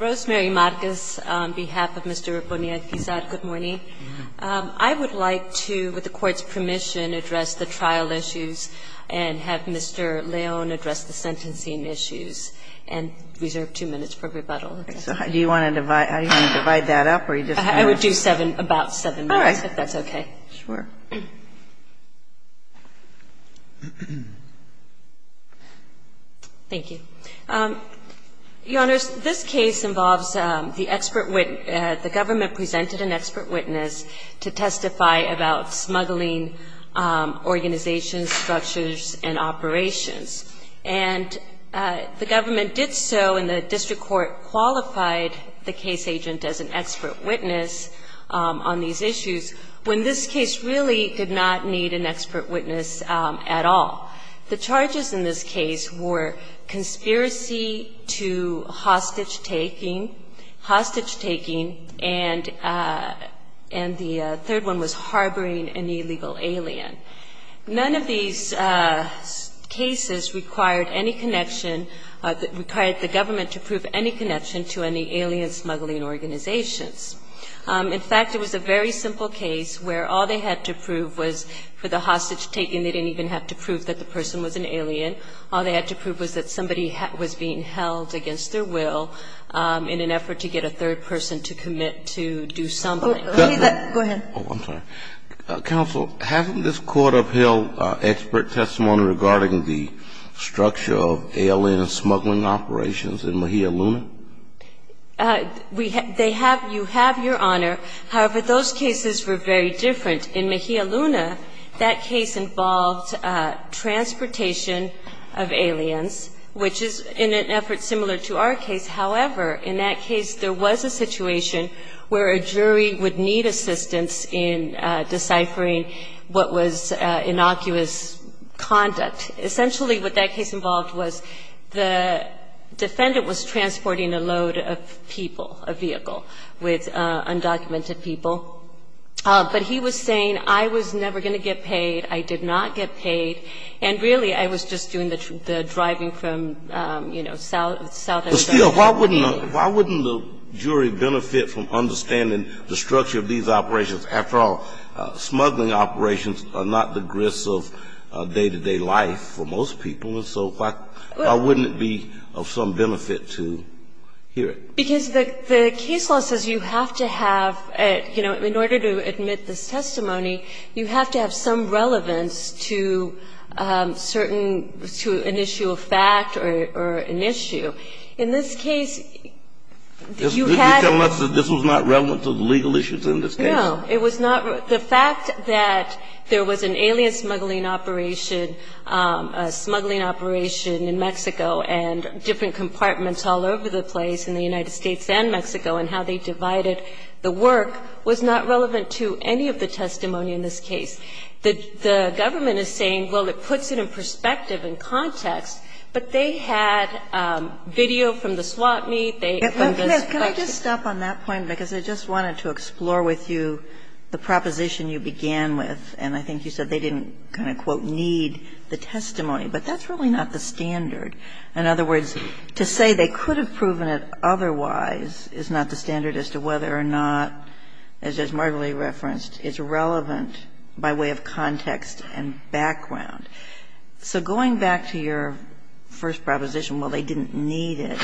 Rosemary Marcus on behalf of Mr. Yuris Bonilla-Guizar, good morning. I would like to, with the Court's permission, address the trial issues and have Mr. León address the sentencing issues and reserve two minutes for rebuttal. Do you want to divide that up? I would do about seven minutes, if that's okay. All right. Sure. Thank you. Your Honors, this case involves the expert witness, the government presented an expert witness to testify about smuggling organizations, structures, and operations. And the government did so, and the district court qualified the case agent as an expert witness on these issues. When this case really did not need an expert witness at all. The charges in this case were conspiracy to hostage taking, hostage taking, and the third one was harboring an illegal alien. None of these cases required any connection, required the government to prove any connection to any alien smuggling organizations. In fact, it was a very simple case where all they had to prove was for the hostage taking, they didn't even have to prove that the person was an alien. All they had to prove was that somebody was being held against their will in an effort to get a third person to commit to do something. Go ahead. Oh, I'm sorry. Counsel, hasn't this Court upheld expert testimony regarding the structure of alien smuggling operations in Mahia Luna? They have, you have, Your Honor. However, those cases were very different. In Mahia Luna, that case involved transportation of aliens, which is in an effort similar to our case. However, in that case, there was a situation where a jury would need assistance in deciphering what was innocuous conduct. Essentially, what that case involved was the defendant was transporting a load of people, a vehicle, with undocumented people. But he was saying, I was never going to get paid, I did not get paid, and really, I was just doing the driving from, you know, South Arizona. But still, why wouldn't the jury benefit from understanding the structure of these operations? After all, smuggling operations are not the grist of day-to-day life for most people, and so why wouldn't it be of some benefit to hear it? Because the case law says you have to have, you know, in order to admit this testimony, you have to have some relevance to certain, to an issue of fact or an issue. In this case, you had to be. This was not relevant to the legal issues in this case? No, it was not. The fact that there was an alien smuggling operation, a smuggling operation in Mexico and different compartments all over the place in the United States and Mexico, and how they divided the work was not relevant to any of the testimony in this case. The government is saying, well, it puts it in perspective and context, but they had video from the swap meet. Can I just stop on that point? Because I just wanted to explore with you the proposition you began with, and I think you said they didn't kind of, quote, need the testimony. But that's really not the standard. In other words, to say they could have proven it otherwise is not the standard as to whether or not, as Judge Martelly referenced, it's relevant by way of context and background. So going back to your first proposition, well, they didn't need it.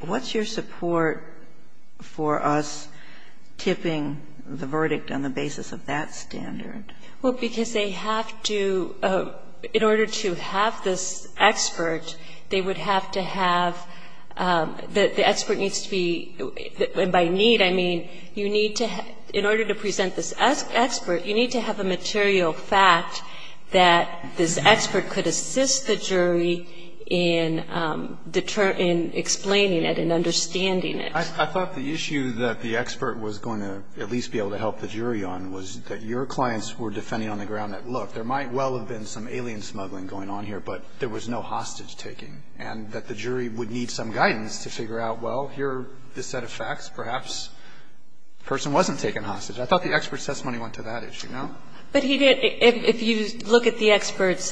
What's your support for us tipping the verdict on the basis of that standard? Well, because they have to, in order to have this expert, they would have to have the expert needs to be, and by need I mean you need to, in order to present this expert, you need to have a material fact that this expert could assist the jury in determining, explaining it and understanding it. I thought the issue that the expert was going to at least be able to help the jury on was that your clients were defending on the ground that, look, there might well have been some alien smuggling going on here, but there was no hostage taking, and that the jury would need some guidance to figure out, well, here are a set of facts. Perhaps the person wasn't taking hostage. I thought the expert's testimony went to that issue, no? But he didn't. If you look at the expert's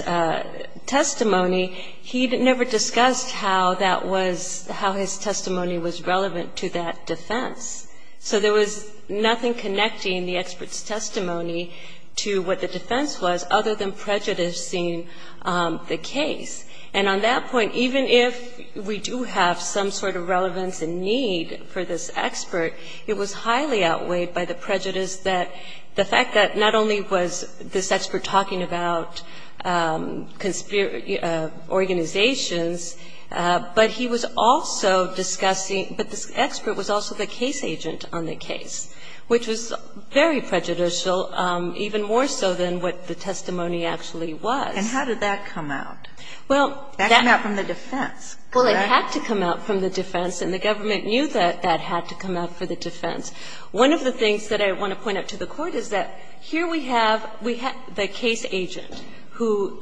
testimony, he never discussed how that was, how his testimony was relevant to that defense. So there was nothing connecting the expert's testimony to what the defense was other than prejudicing the case. And on that point, even if we do have some sort of relevance and need for this expert, it was highly outweighed by the prejudice that the fact that not only was this expert talking about conspiracy organizations, but he was also discussing – but this expert was also the case agent on the case, which was very prejudicial, even more so than what the testimony actually was. And how did that come out? Well, that – That came out from the defense, correct? Well, it had to come out from the defense, and the government knew that that had to come out for the defense. One of the things that I want to point out to the Court is that here we have the case agent who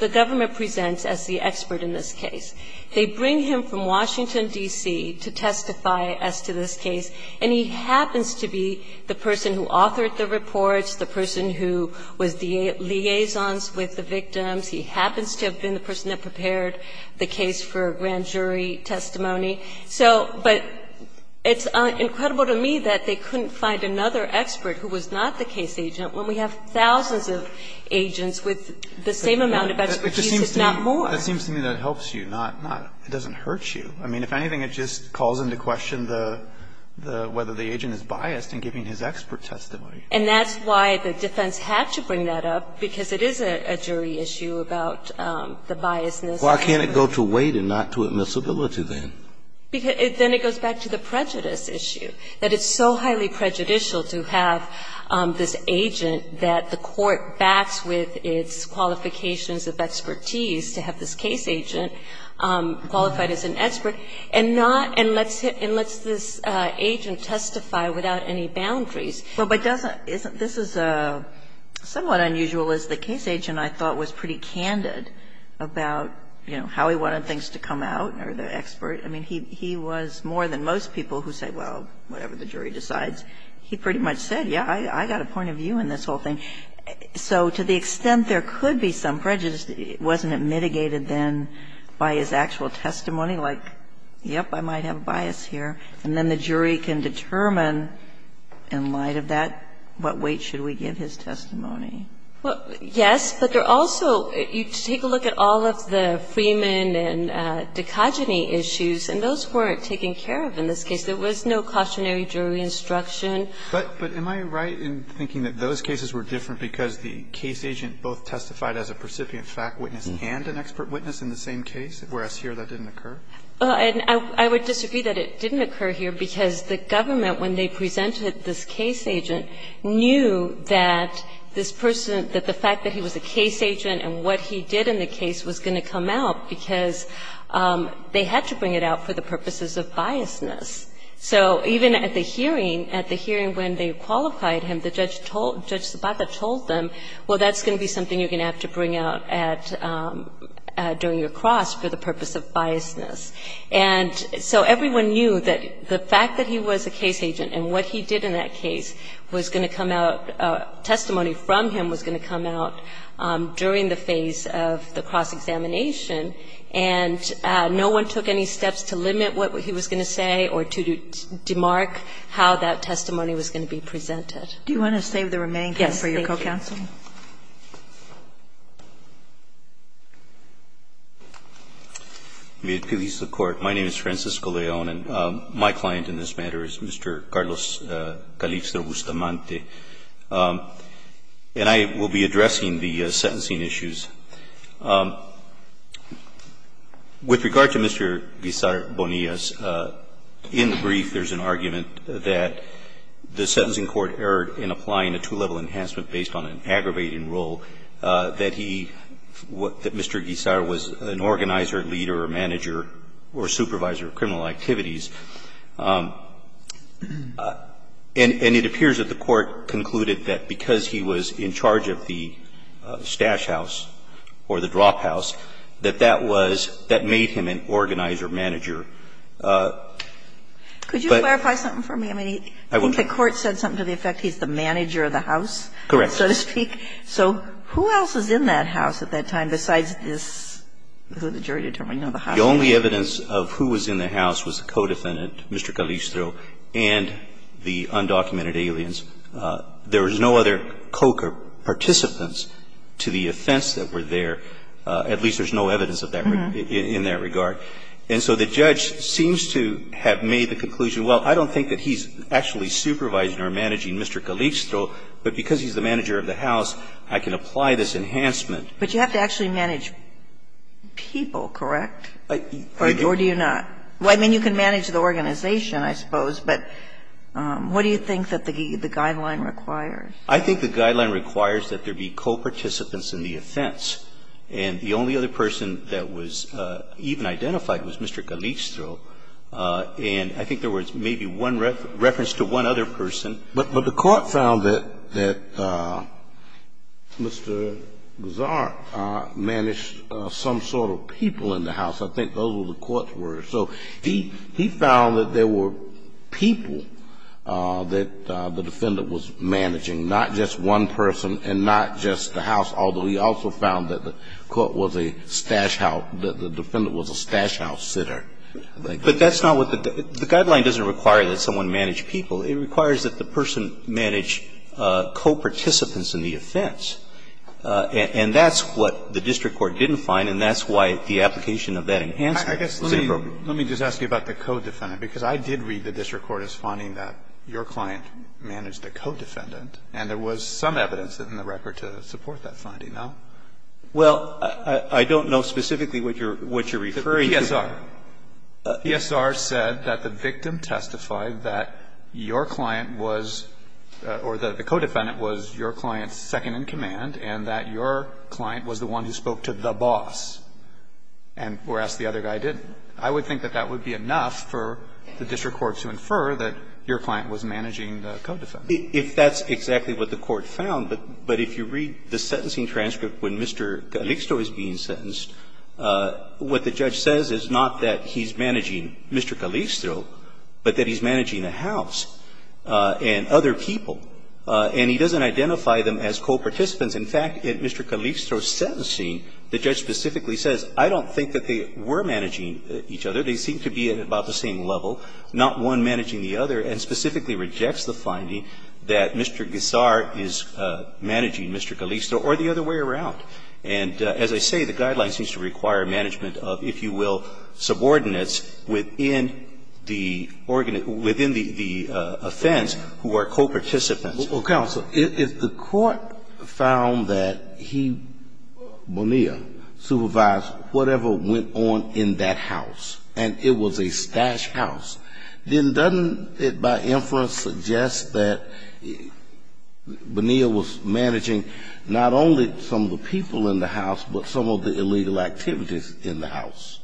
the government presents as the expert in this case. They bring him from Washington, D.C., to testify as to this case, and he happens to be the person who authored the reports, the person who was the liaisons with the victims. He happens to have been the person that prepared the case for a grand jury testimony. So – but it's incredible to me that they couldn't find another expert who was not the case agent when we have thousands of agents with the same amount of expertise, if not more. It just seems to me that it helps you, not – it doesn't hurt you. I mean, if anything, it just calls into question the – whether the agent is biased in giving his expert testimony. And that's why the defense had to bring that up, because it is a jury issue about the biasness. Why can't it go to weight and not to admissibility, then? Because then it goes back to the prejudice issue, that it's so highly prejudicial to have this agent that the Court backs with its qualifications of expertise to have this case agent qualified as an expert, and not – and lets this agent testify without any boundaries. But doesn't – isn't – this is somewhat unusual, is the case agent, I thought, was pretty candid about, you know, how he wanted things to come out or the expert. I mean, he was more than most people who say, well, whatever the jury decides. He pretty much said, yes, I got a point of view in this whole thing. So to the extent there could be some prejudice, wasn't it mitigated, then, by his actual testimony, like, yes, I might have a bias here, and then the jury can determine when, in light of that, what weight should we give his testimony? Well, yes, but there also – you take a look at all of the Freeman and Dicogeny issues, and those weren't taken care of in this case. There was no cautionary jury instruction. But am I right in thinking that those cases were different because the case agent both testified as a precipitant fact witness and an expert witness in the same case, whereas here that didn't occur? And I would disagree that it didn't occur here, because the government, when they presented this case agent, knew that this person, that the fact that he was a case agent and what he did in the case was going to come out, because they had to bring it out for the purposes of biasness. So even at the hearing, at the hearing when they qualified him, the judge told – Judge Zapata told them, well, that's going to be something you're going to have to bring out at – during your cross for the purpose of biasness. And so everyone knew that the fact that he was a case agent and what he did in that case was going to come out – testimony from him was going to come out during the phase of the cross-examination, and no one took any steps to limit what he was going to say or to demark how that testimony was going to be presented. Do you want to save the remaining time for your co-counsel? Yes, thank you. May it please the Court. My name is Francisco Leon, and my client in this matter is Mr. Carlos Calipso-Bustamante. And I will be addressing the sentencing issues. With regard to Mr. Guisar Bonillas, in the brief there's an argument that the sentencing court erred in applying a two-level enhancement based on an aggravating rule, that he – that Mr. Guisar was an organizer, leader, or manager or supervisor of criminal activities. And it appears that the Court concluded that because he was in charge of the stash house or the drop house, that that was – that made him an organizer-manager. But – I think the Court said something to the effect he's the manager of the house. Correct. So to speak. So who else was in that house at that time besides this – who the jury determined the house was? The only evidence of who was in the house was the co-defendant, Mr. Calipso, and the undocumented aliens. There was no other co-participants to the offense that were there. At least there's no evidence of that in that regard. And so the judge seems to have made the conclusion, well, I don't think that he's actually supervising or managing Mr. Calipso, but because he's the manager of the house, I can apply this enhancement. But you have to actually manage people, correct? Or do you not? I mean, you can manage the organization, I suppose, but what do you think that the guideline requires? I think the guideline requires that there be co-participants in the offense. And the only other person that was even identified was Mr. Calipso. And I think there was maybe one reference to one other person. But the court found that Mr. Gazzar managed some sort of people in the house. I think those were the court's words. So he found that there were people that the defendant was managing, not just one person and not just the house, although he also found that the court was a stash house – that the defendant was a stash house sitter. But that's not what the – the guideline doesn't require that someone manage people. It requires that the person manage co-participants in the offense. And that's what the district court didn't find, and that's why the application of that enhancement was inappropriate. Let me just ask you about the co-defendant, because I did read the district court as finding that your client managed a co-defendant, and there was some evidence in the record to support that finding, no? Well, I don't know specifically what you're referring to. PSR. PSR said that the victim testified that your client was – or the co-defendant was your client's second-in-command, and that your client was the one who spoke to the boss, and whereas the other guy didn't. I would think that that would be enough for the district court to infer that your client was managing the co-defendant. If that's exactly what the court found, but if you read the sentencing transcript when Mr. Calixto is being sentenced, what the judge says is not that he's managing Mr. Calixto, but that he's managing the house and other people, and he doesn't identify them as co-participants. In fact, in Mr. Calixto's sentencing, the judge specifically says, I don't think that they were managing each other. They seem to be at about the same level, not one managing the other, and specifically rejects the finding that Mr. Guisar is managing Mr. Calixto or the other way around. And as I say, the guidelines seem to require management of, if you will, subordinates within the organ of the ---- within the offense who are co-participants. Well, counsel, if the court found that he, Bonilla, supervised whatever went on in that house, and it was a stash house, then doesn't it, by inference, suggest that Bonilla was managing not only some of the people in the house, but some of the illegal activities in the house?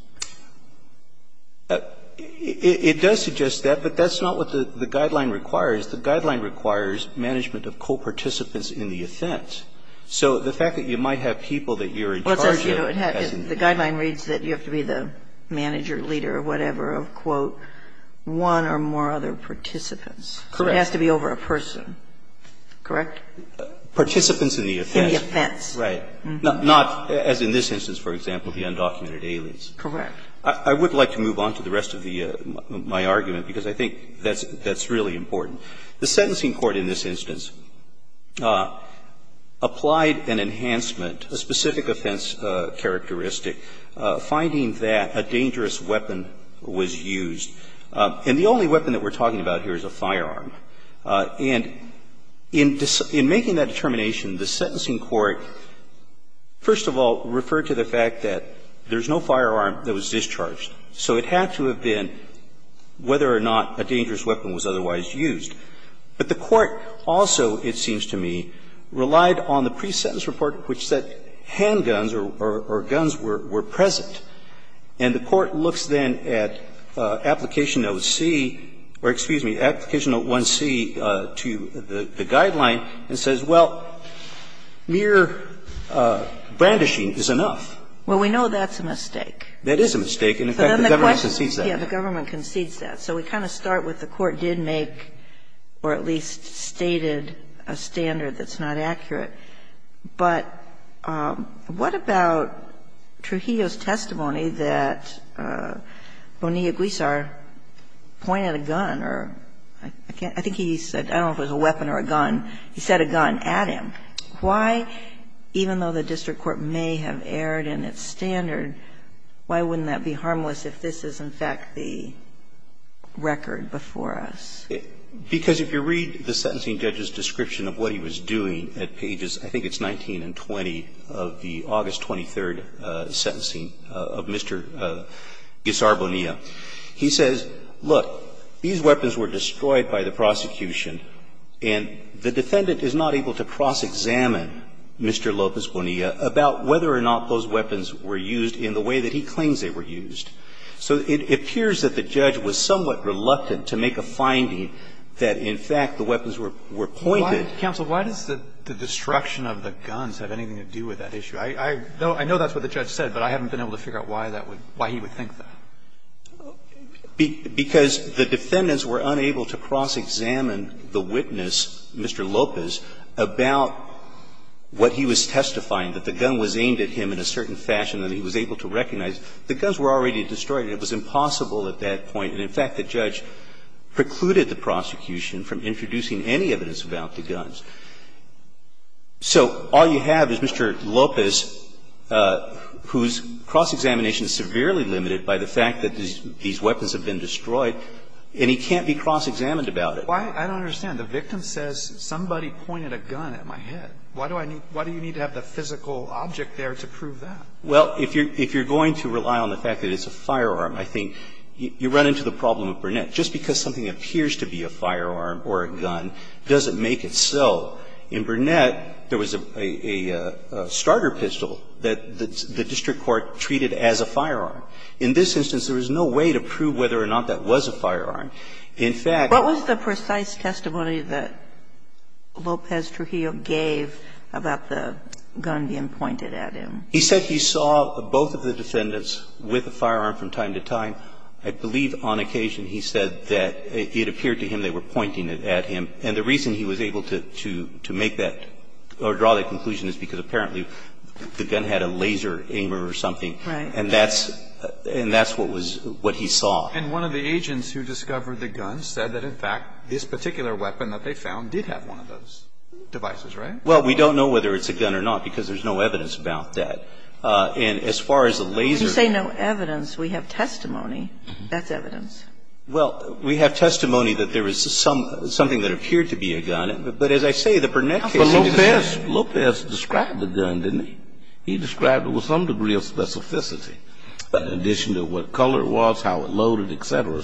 It does suggest that, but that's not what the guideline requires. The guideline requires management of co-participants in the offense. So the fact that you might have people that you're in charge of has to be ---- The guideline reads that you have to be the manager, leader, whatever, of, quote, one or more other participants. Correct. So it has to be over a person. Correct? Participants in the offense. In the offense. Right. Not, as in this instance, for example, the undocumented aliens. Correct. I would like to move on to the rest of the ---- my argument, because I think that's really important. The sentencing court in this instance applied an enhancement, a specific offense characteristic, finding that a dangerous weapon was used. And the only weapon that we're talking about here is a firearm. And in making that determination, the sentencing court, first of all, referred to the fact that there's no firearm that was discharged. So it had to have been whether or not a dangerous weapon was otherwise used. But the court also, it seems to me, relied on the pre-sentence report, which said handguns or guns were present. And the court looks then at application note C or, excuse me, application note 1C to the guideline and says, well, mere brandishing is enough. Well, we know that's a mistake. That is a mistake. And in fact, the government concedes that. Yes, the government concedes that. So we kind of start with the court did make or at least stated a standard that's not accurate. But what about Trujillo's testimony that Bonilla-Guizar pointed a gun or, I think, he said, I don't know if it was a weapon or a gun. He said a gun at him. Why, even though the district court may have erred in its standard, why wouldn't that be harmless if this is, in fact, the record before us? Because if you read the sentencing judge's description of what he was doing at pages I think it's 19 and 20 of the August 23rd sentencing of Mr. Guizar Bonilla, he says, look, these weapons were destroyed by the prosecution, and the defendant is not able to cross-examine Mr. Lopez Bonilla about whether or not those weapons were used in the way that he claims they were used. So it appears that the judge was somewhat reluctant to make a finding that, in fact, the weapons were pointed. Why, counsel, why does the destruction of the guns have anything to do with that issue? I know that's what the judge said, but I haven't been able to figure out why that would be, why he would think that. Because the defendants were unable to cross-examine the witness, Mr. Lopez, about what he was testifying, that the gun was aimed at him in a certain fashion that he was able to recognize. The guns were already destroyed. It was impossible at that point. And, in fact, the judge precluded the prosecution from introducing any evidence about the guns. So all you have is Mr. Lopez, whose cross-examination is severely limited by the fact that these weapons have been destroyed, and he can't be cross-examined about it. Why? I don't understand. The victim says somebody pointed a gun at my head. Why do I need to have the physical object there to prove that? Well, if you're going to rely on the fact that it's a firearm, I think you run into the problem of Burnett. Just because something appears to be a firearm or a gun doesn't make it so. In Burnett, there was a starter pistol that the district court treated as a firearm. In this instance, there was no way to prove whether or not that was a firearm. In fact, it was a gun. What was the precise testimony that Lopez Trujillo gave about the gun being pointed at him? He said he saw both of the defendants with a firearm from time to time. I believe on occasion he said that it appeared to him they were pointing it at him. And the reason he was able to make that or draw that conclusion is because apparently the gun had a laser aimer or something. Right. And that's what he saw. And one of the agents who discovered the gun said that, in fact, this particular weapon that they found did have one of those devices, right? Well, we don't know whether it's a gun or not because there's no evidence about that. And as far as the laser aimer. You say no evidence. We have testimony. That's evidence. Well, we have testimony that there was something that appeared to be a gun. But as I say, the Burnett case. But Lopez described the gun, didn't he? He described it with some degree of specificity, in addition to what color it was, how it loaded, et cetera.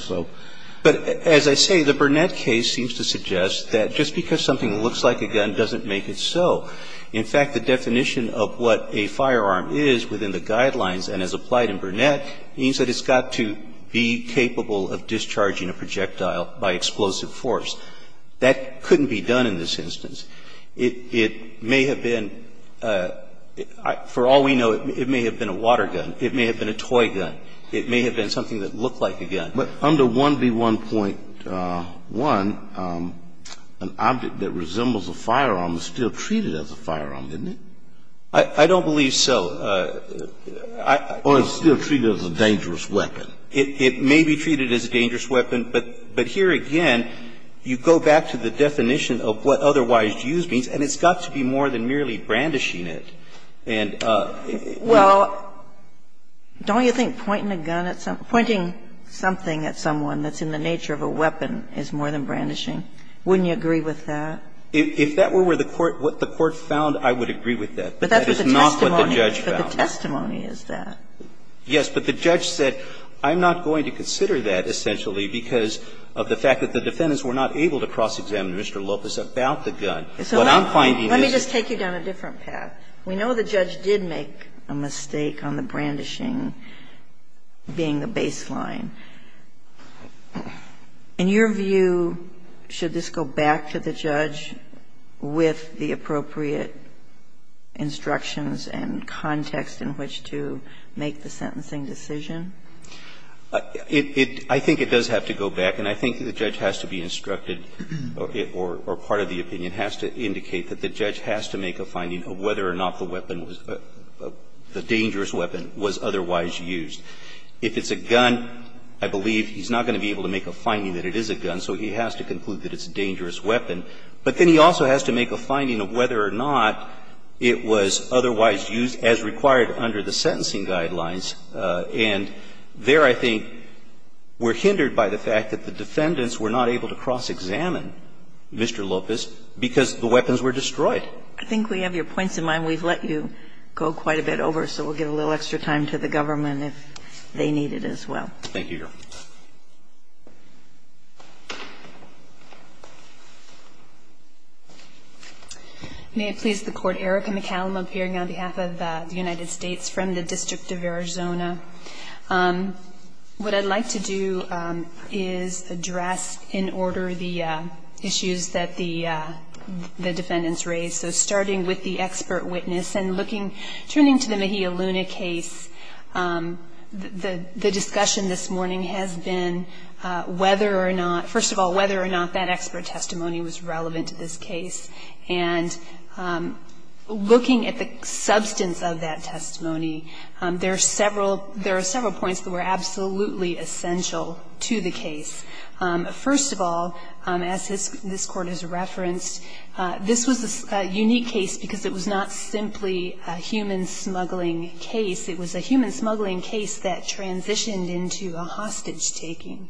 But as I say, the Burnett case seems to suggest that just because something looks like a gun doesn't make it so. In fact, the definition of what a firearm is within the guidelines and is applied in Burnett means that it's got to be capable of discharging a projectile by explosive force. That couldn't be done in this instance. It may have been, for all we know, it may have been a water gun. It may have been a toy gun. It may have been something that looked like a gun. But under 1B1.1, an object that resembles a firearm is still treated as a firearm, isn't it? I don't believe so. Or it's still treated as a dangerous weapon. It may be treated as a dangerous weapon. But here again, you go back to the definition of what otherwise used means, and it's got to be more than merely brandishing it. And you can't do that. Well, don't you think pointing a gun at something or pointing something at someone that's in the nature of a weapon is more than brandishing? Wouldn't you agree with that? If that were what the court found, I would agree with that. But that's not what the judge found. But that's what the testimony is, is that? Yes, but the judge said, I'm not going to consider that, essentially, because of the fact that the defendants were not able to cross-examine Mr. Lopez about the gun. What I'm finding is that the judge did make a mistake on the brandishing being the baseline. In your view, should this go back to the judge with the appropriate instructions and context in which to make the sentencing decision? I think it does have to go back. And I think the judge has to be instructed, or part of the opinion has to indicate, that the judge has to make a finding of whether or not the weapon was the dangerous weapon was otherwise used. If it's a gun, I believe he's not going to be able to make a finding that it is a gun, so he has to conclude that it's a dangerous weapon. But then he also has to make a finding of whether or not it was otherwise used as required under the sentencing guidelines. And there, I think, we're hindered by the fact that the defendants were not able to cross-examine Mr. Lopez because the weapons were destroyed. I think we have your points in mind. We've let you go quite a bit over, so we'll give a little extra time to the government if they need it as well. Thank you, Your Honor. May it please the Court, Erica McCallum appearing on behalf of the United States from the District of Arizona. What I'd like to do is address, in order, the issues that the defendants raised. So starting with the expert witness, and turning to the Mejia Luna case, the discussion this has been whether or not, first of all, whether or not that expert testimony was relevant to this case. And looking at the substance of that testimony, there are several points that were absolutely essential to the case. First of all, as this Court has referenced, this was a unique case because it was not simply a human smuggling case. It was a human smuggling case that transitioned into a hostage-taking.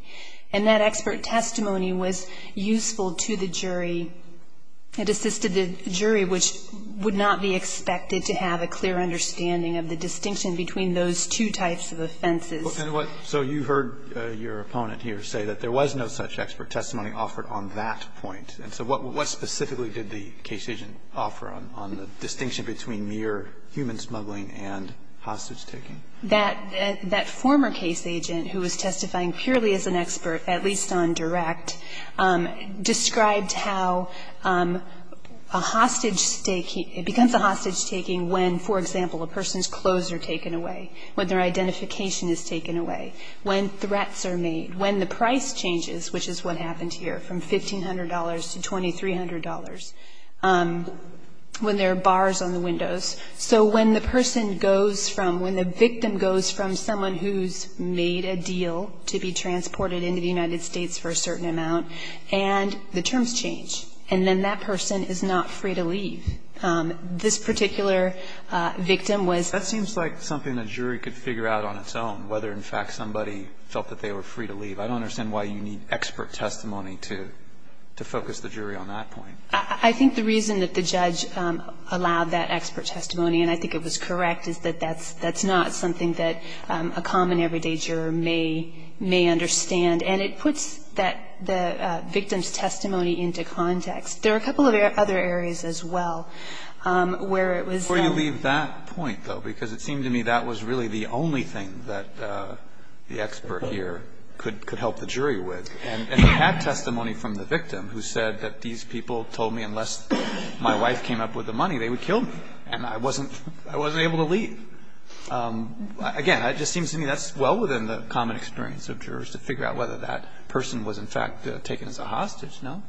And that expert testimony was useful to the jury. It assisted the jury, which would not be expected to have a clear understanding of the distinction between those two types of offenses. And what so you heard your opponent here say that there was no such expert testimony offered on that point. And so what specifically did the case agent offer on the distinction between mere human smuggling and hostage-taking? That former case agent, who was testifying purely as an expert, at least on direct, described how a hostage-taking, it becomes a hostage-taking when, for example, a person's clothes are taken away, when their identification is taken away, when threats are made, when the price changes, which is what happened here, from $1,500 to $2,300, when there are bars on the windows. So when the person goes from, when the victim goes from someone who's made a deal to be transported into the United States for a certain amount, and the terms change, and then that person is not free to leave, this particular victim was. That seems like something the jury could figure out on its own, whether, in fact, somebody felt that they were free to leave. I don't understand why you need expert testimony to focus the jury on that point. I think the reason that the judge allowed that expert testimony, and I think it was correct, is that that's not something that a common everyday juror may understand. And it puts that, the victim's testimony into context. There are a couple of other areas as well, where it was. Before you leave that point, though, because it seemed to me that was really the only thing that the expert here could help the jury with. And they had testimony from the victim who said that these people told me unless my wife came up with the money, they would kill me, and I wasn't able to leave. Again, it just seems to me that's well within the common experience of jurors to figure out whether that person was, in fact, taken as a hostage, no?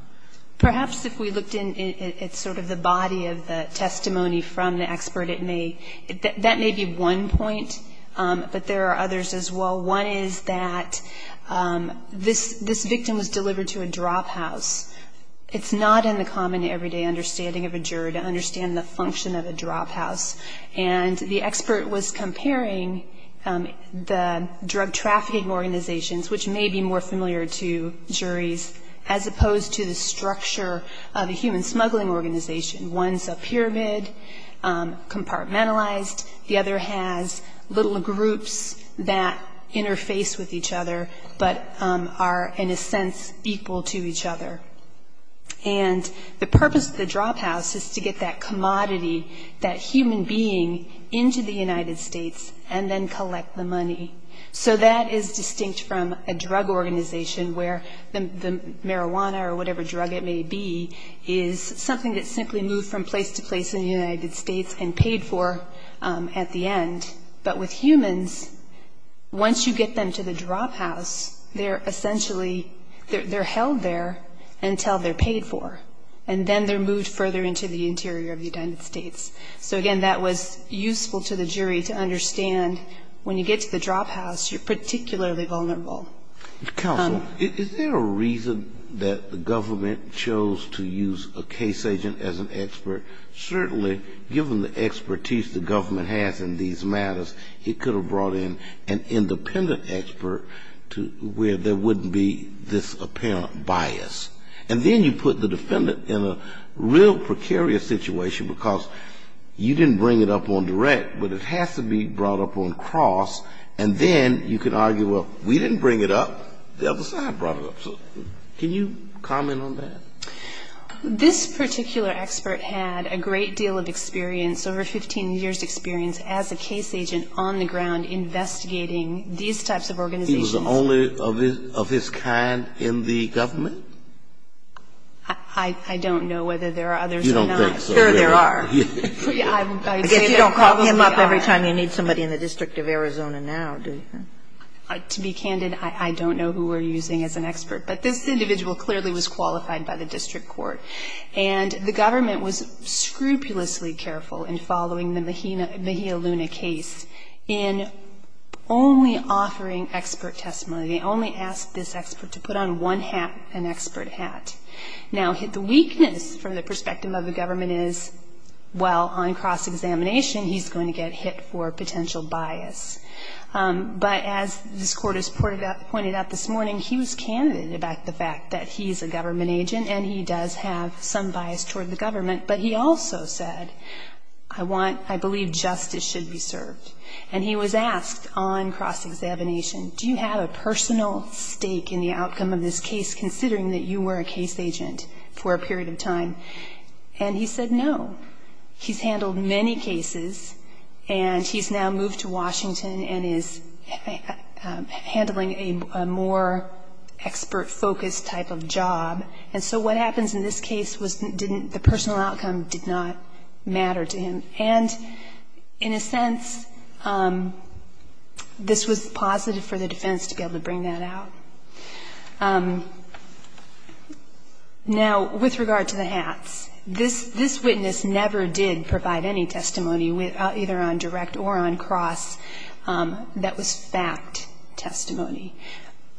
Perhaps if we looked in at sort of the body of the testimony from the expert, it may, that may be one point, but there are others as well. One is that this victim was delivered to a drop house. It's not in the common everyday understanding of a juror to understand the function of a drop house. And the expert was comparing the drug trafficking organizations, which may be more familiar to juries, as opposed to the structure of a human smuggling organization. One's a pyramid, compartmentalized. The other has little groups that interface with each other but are, in a sense, equal to each other. And the purpose of the drop house is to get that commodity, that human being, into the United States and then collect the money. So that is distinct from a drug organization where the marijuana or whatever drug it may be is something that's simply moved from place to place in the United States and paid for at the end. But with humans, once you get them to the drop house, they're essentially, they're held there until they're paid for. And then they're moved further into the interior of the United States. So again, that was useful to the jury to understand when you get to the drop house, you're particularly vulnerable. Counsel, is there a reason that the government chose to use a case agent as an expert? Certainly, given the expertise the government has in these matters, it could have brought in an independent expert where there wouldn't be this apparent bias. And then you put the defendant in a real precarious situation because you didn't bring it up on direct, but it has to be brought up on cross. And then you can argue, well, we didn't bring it up. The other side brought it up. So can you comment on that? This particular expert had a great deal of experience, over 15 years' experience, as a case agent on the ground investigating these types of organizations. He was the only of his kind in the government? I don't know whether there are others or not. You don't think so, do you? Sure there are. I guess you don't call him up every time you need somebody in the District of Arizona now, do you? To be candid, I don't know who we're using as an expert. But this individual clearly was qualified by the district court. And the government was scrupulously careful in following the Mejia Luna case in only offering expert testimony. They only asked this expert to put on one hat, an expert hat. Now, the weakness from the perspective of the government is, well, on cross-examination he's going to get hit for potential bias. But as this court has pointed out this morning, he was candid about the fact that he's a government agent and he does have some bias toward the government. But he also said, I want, I believe justice should be served. And he was asked on cross-examination, do you have a personal stake in the outcome of this case, considering that you were a case agent for a period of time? And he said no. He's handled many cases. And he's now moved to Washington and is handling a more expert-focused type of job. And so what happens in this case was the personal outcome did not matter to him. And in a sense, this was positive for the defense to be able to bring that out. Now, with regard to the hats, this witness never did provide any testimony either on direct or on cross that was fact testimony.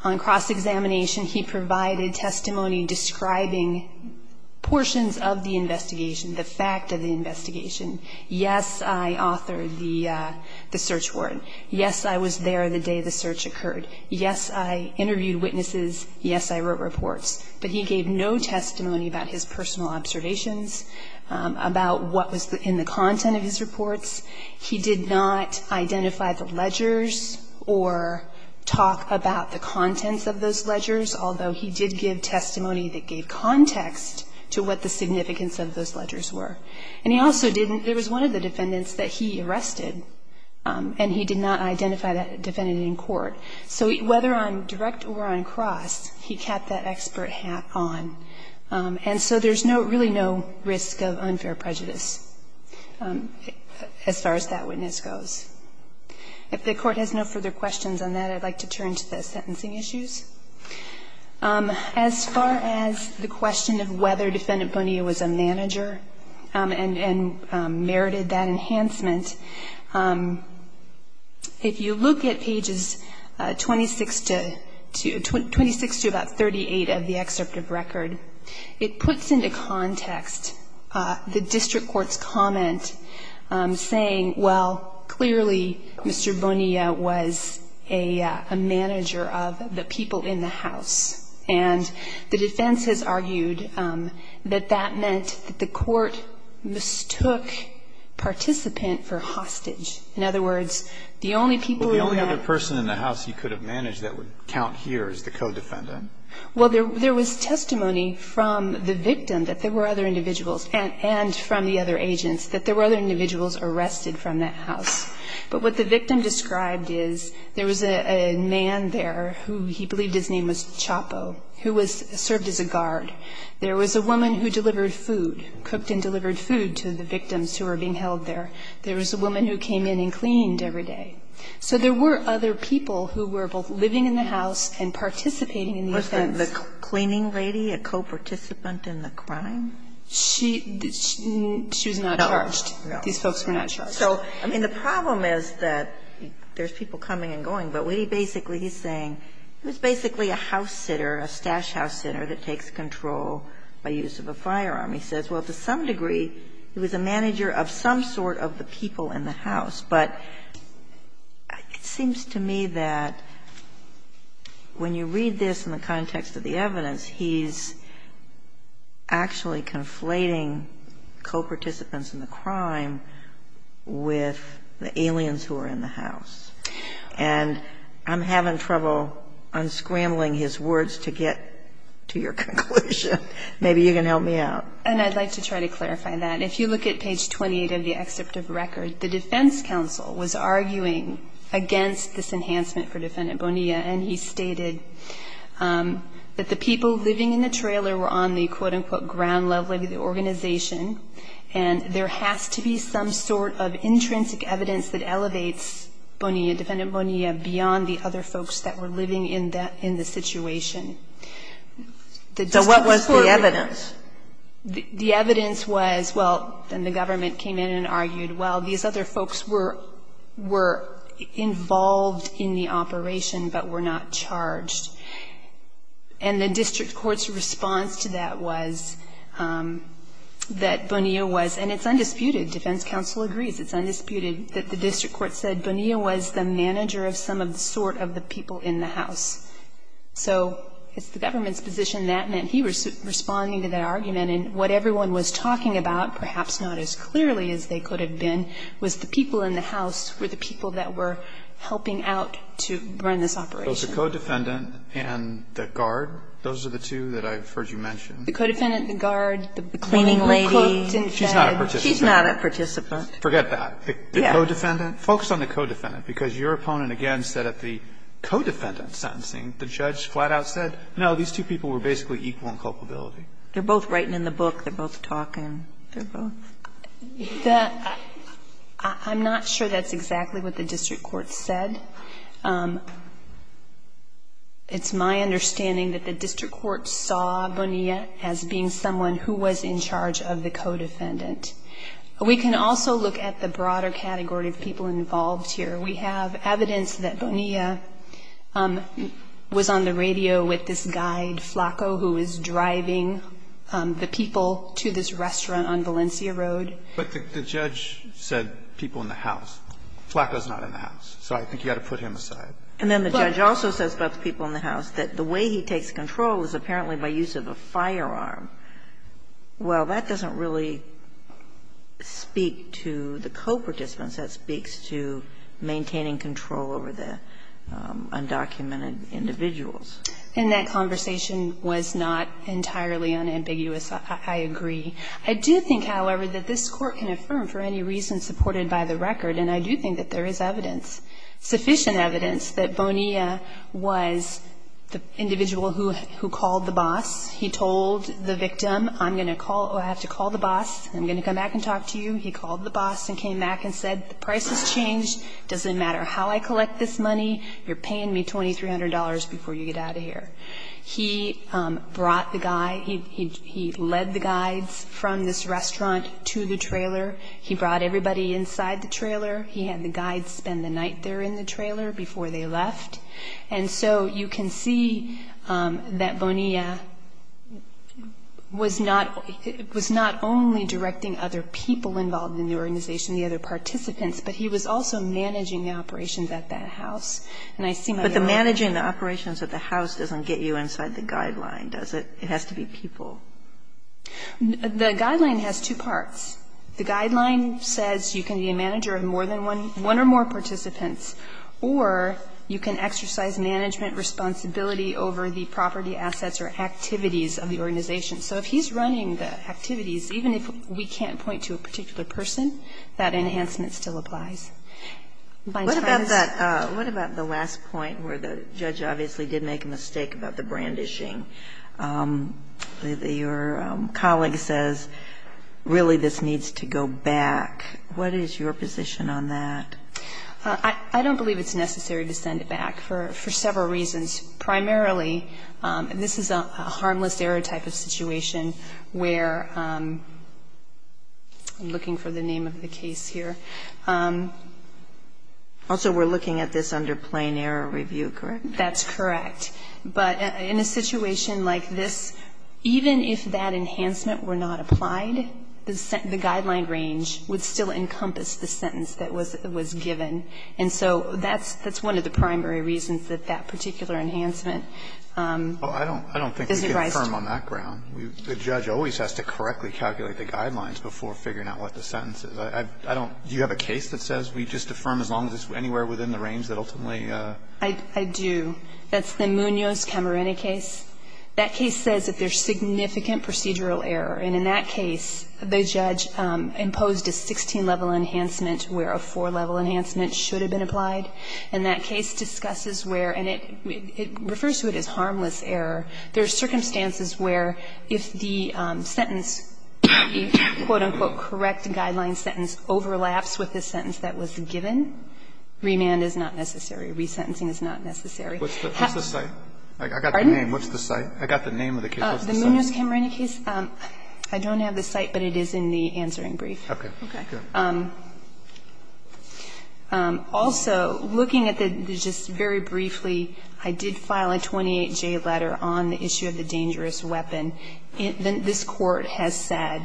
On cross-examination, he provided testimony describing portions of the investigation, the fact of the investigation. Yes, I authored the search warrant. Yes, I was there the day the search occurred. Yes, I interviewed witnesses. Yes, I wrote reports. But he gave no testimony about his personal observations, about what was in the content of his reports. He did not identify the ledgers or talk about the contents of those ledgers, although he did give testimony that gave context to what the significance of those ledgers were. And he also didn't, there was one of the defendants that he arrested and he did not identify that defendant in court. So whether on direct or on cross, he kept that expert hat on. And so there's no, really no risk of unfair prejudice as far as that witness goes. If the court has no further questions on that, I'd like to turn to the sentencing issues. As far as the question of whether Defendant Bonilla was a manager and merited that enhancement, if you look at pages 26 to about 38 of the excerpt of record, it puts into context the district court's comment saying, well, clearly, Mr. Bonilla was a manager of the people in the house. And the defense has argued that that meant that the court mistook participant for hostage. In other words, the only people in the house he could have managed that would count here is the co-defendant. Well, there was testimony from the victim that there were other individuals and from the other agents that there were other individuals arrested from that house. But what the victim described is there was a man there who he believed his name was Chapo, who was served as a guard. There was a woman who delivered food, cooked and delivered food to the victims who were being held there. There was a woman who came in and cleaned every day. So there were other people who were both living in the house and participating in the offense. The cleaning lady, a co-participant in the crime? She was not charged. These folks were not charged. So, I mean, the problem is that there's people coming and going. But what he basically is saying, it was basically a house sitter, a stash house sitter that takes control by use of a firearm. He says, well, to some degree, he was a manager of some sort of the people in the house. But it seems to me that when you read this in the context of the evidence, he's actually conflating co-participants in the crime with the aliens who are in the house. And I'm having trouble unscrambling his words to get to your conclusion. Maybe you can help me out. And I'd like to try to clarify that. If you look at page 28 of the excerpt of the record, the defense counsel was arguing against this enhancement for Defendant Bonilla, and he stated that the people living in the trailer were on the, quote, unquote, ground level of the organization. And there has to be some sort of intrinsic evidence that elevates Bonilla, Defendant Bonilla, beyond the other folks that were living in the situation. So what was the evidence? The evidence was, well, then the government came in and argued, well, these other folks were involved in the operation but were not charged. And the district court's response to that was that Bonilla was, and it's undisputed, defense counsel agrees, it's undisputed, that the district court said Bonilla was the manager of some sort of the people in the house. So it's the government's position that meant he was responding to that argument. And what everyone was talking about, perhaps not as clearly as they could have been, was the people in the house were the people that were helping out to run this operation. So the co-defendant and the guard, those are the two that I've heard you mention. The co-defendant and the guard. The cleaning lady. The woman who cooked and fed. She's not a participant. She's not a participant. Forget that. The co-defendant. Focus on the co-defendant, because your opponent, again, said at the co-defendant sentencing, the judge flat out said, no, these two people were basically equal in culpability. They're both writing in the book. They're both talking. They're both. I'm not sure that's exactly what the district court said. It's my understanding that the district court saw Bonilla as being someone who was in charge of the co-defendant. We can also look at the broader category of people involved here. We have evidence that Bonilla was on the radio with this guide, Flaco, who is driving the people to this restaurant on Valencia Road. But the judge said people in the house. Flaco is not in the house, so I think you ought to put him aside. And then the judge also says about the people in the house that the way he takes control is apparently by use of a firearm. Well, that doesn't really speak to the co-participants. That speaks to maintaining control over the undocumented individuals. And that conversation was not entirely unambiguous. I agree. I do think, however, that this Court can affirm for any reason supported by the record, and I do think that there is evidence, sufficient evidence, that Bonilla was the individual who called the boss. He told the victim, I'm going to call or I have to call the boss. I'm going to come back and talk to you. He called the boss and came back and said, the price has changed. It doesn't matter how I collect this money. You're paying me $2,300 before you get out of here. He brought the guy, he led the guides from this restaurant to the trailer. He brought everybody inside the trailer. He had the guides spend the night there in the trailer before they left. And so you can see that Bonilla was not only directing other people involved in the organization, the other participants, but he was also managing the operations at that house. And I seem to know that. Kagan. But the managing the operations at the house doesn't get you inside the guideline, does it? It has to be people. The guideline has two parts. The guideline says you can be a manager of more than one or more participants, or you can exercise management responsibility over the property assets or activities of the organization. So if he's running the activities, even if we can't point to a particular person, that enhancement still applies. What about the last point where the judge obviously did make a mistake about the brandishing? Your colleague says, really, this needs to go back. What is your position on that? I don't believe it's necessary to send it back for several reasons. Primarily, this is a harmless error type of situation where I'm looking for the name of the case here. Also, we're looking at this under plain error review, correct? That's correct. But in a situation like this, even if that enhancement were not applied, the guideline range would still encompass the sentence that was given. And so that's one of the primary reasons that that particular enhancement isn't raised. Well, I don't think we can affirm on that ground. The judge always has to correctly calculate the guidelines before figuring out what the sentence is. I don't do you have a case that says we just affirm as long as it's anywhere within the range that ultimately? I do. That's the Munoz-Camarena case. That case says that there's significant procedural error. And in that case, the judge imposed a 16-level enhancement where a 4-level enhancement should have been applied. And that case discusses where, and it refers to it as harmless error, there are circumstances where if the sentence, the quote, unquote, correct guideline sentence overlaps with the sentence that was given, remand is not necessary, resentencing is not necessary. What's the site? I got the name. What's the site? I got the name of the case. What's the site? The Munoz-Camarena case. I don't have the site, but it is in the answering brief. Okay. Okay. Also, looking at the, just very briefly, I did file a 28J letter on the issue of the dangerous weapon. This Court has said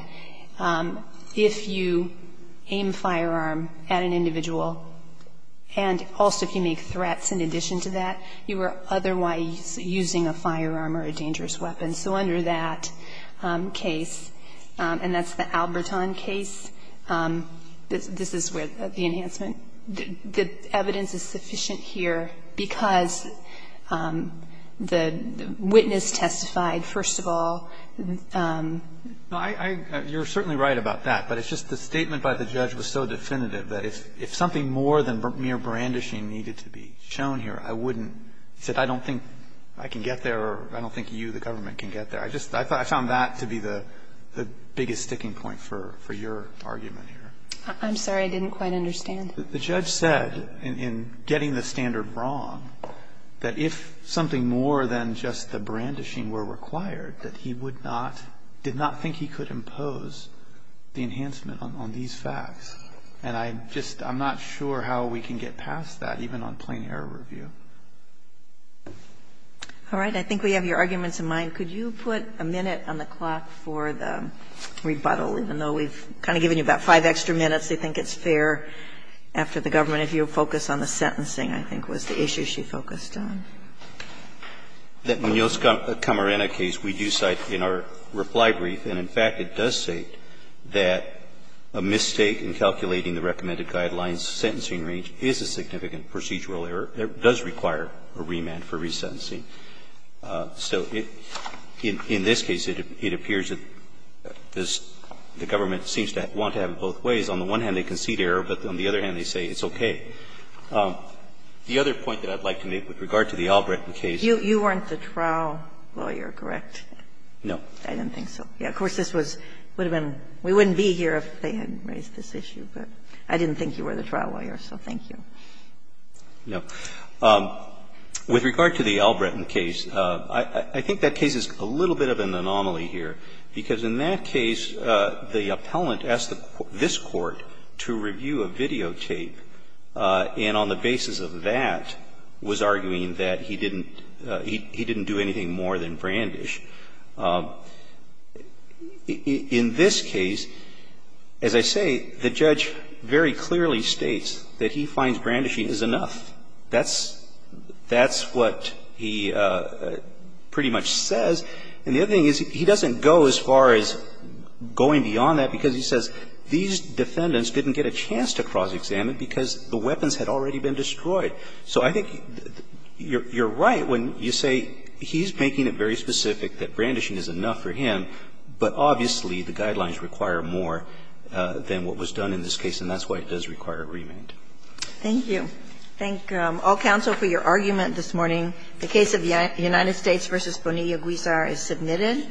if you aim firearm at an individual and also if you make threats in addition to that, you are otherwise using a firearm or a dangerous weapon. So under that case, and that's the Alberton case, this is where the enhancement the evidence is sufficient here because the witness testified, first of all. No, I, you're certainly right about that, but it's just the statement by the judge was so definitive that if something more than mere brandishing needed to be shown here, I wouldn't. He said I don't think I can get there or I don't think you, the government, can get there. I just, I found that to be the biggest sticking point for your argument here. I'm sorry. I didn't quite understand. The judge said in getting the standard wrong that if something more than just the brandishing were required, that he would not, did not think he could impose the enhancement on these facts. And I just, I'm not sure how we can get past that, even on plain error review. All right. I think we have your arguments in mind. Could you put a minute on the clock for the rebuttal? Even though we've kind of given you about five extra minutes, they think it's fair after the government. If you'll focus on the sentencing, I think, was the issue she focused on. That Munoz-Camarena case, we do cite in our reply brief, and in fact, it does state that a mistake in calculating the recommended guidelines sentencing range is a significant procedural error, does require a remand for resentencing. So in this case, it appears that the government seems to want to have it both ways. On the one hand, they concede error. But on the other hand, they say it's okay. The other point that I'd like to make with regard to the Albrecht case. You weren't the trial lawyer, correct? No. I didn't think so. Of course, this would have been we wouldn't be here if they hadn't raised this issue. But I didn't think you were the trial lawyer, so thank you. No. With regard to the Albrecht case, I think that case is a little bit of an anomaly here, because in that case, the appellant asked this Court to review a videotape. And on the basis of that, was arguing that he didn't do anything more than brandish. In this case, as I say, the judge very clearly states that he finds brandishing is enough. That's what he pretty much says. And the other thing is, he doesn't go as far as going beyond that, because he says these defendants didn't get a chance to cross-examine because the weapons had already been destroyed. So I think you're right when you say he's making it very specific that brandishing is enough for him, but obviously, the guidelines require more than what was done in this case, and that's why it does require a remand. Thank you. Thank all counsel for your argument this morning. The case of the United States v. Bonilla-Guizar is submitted.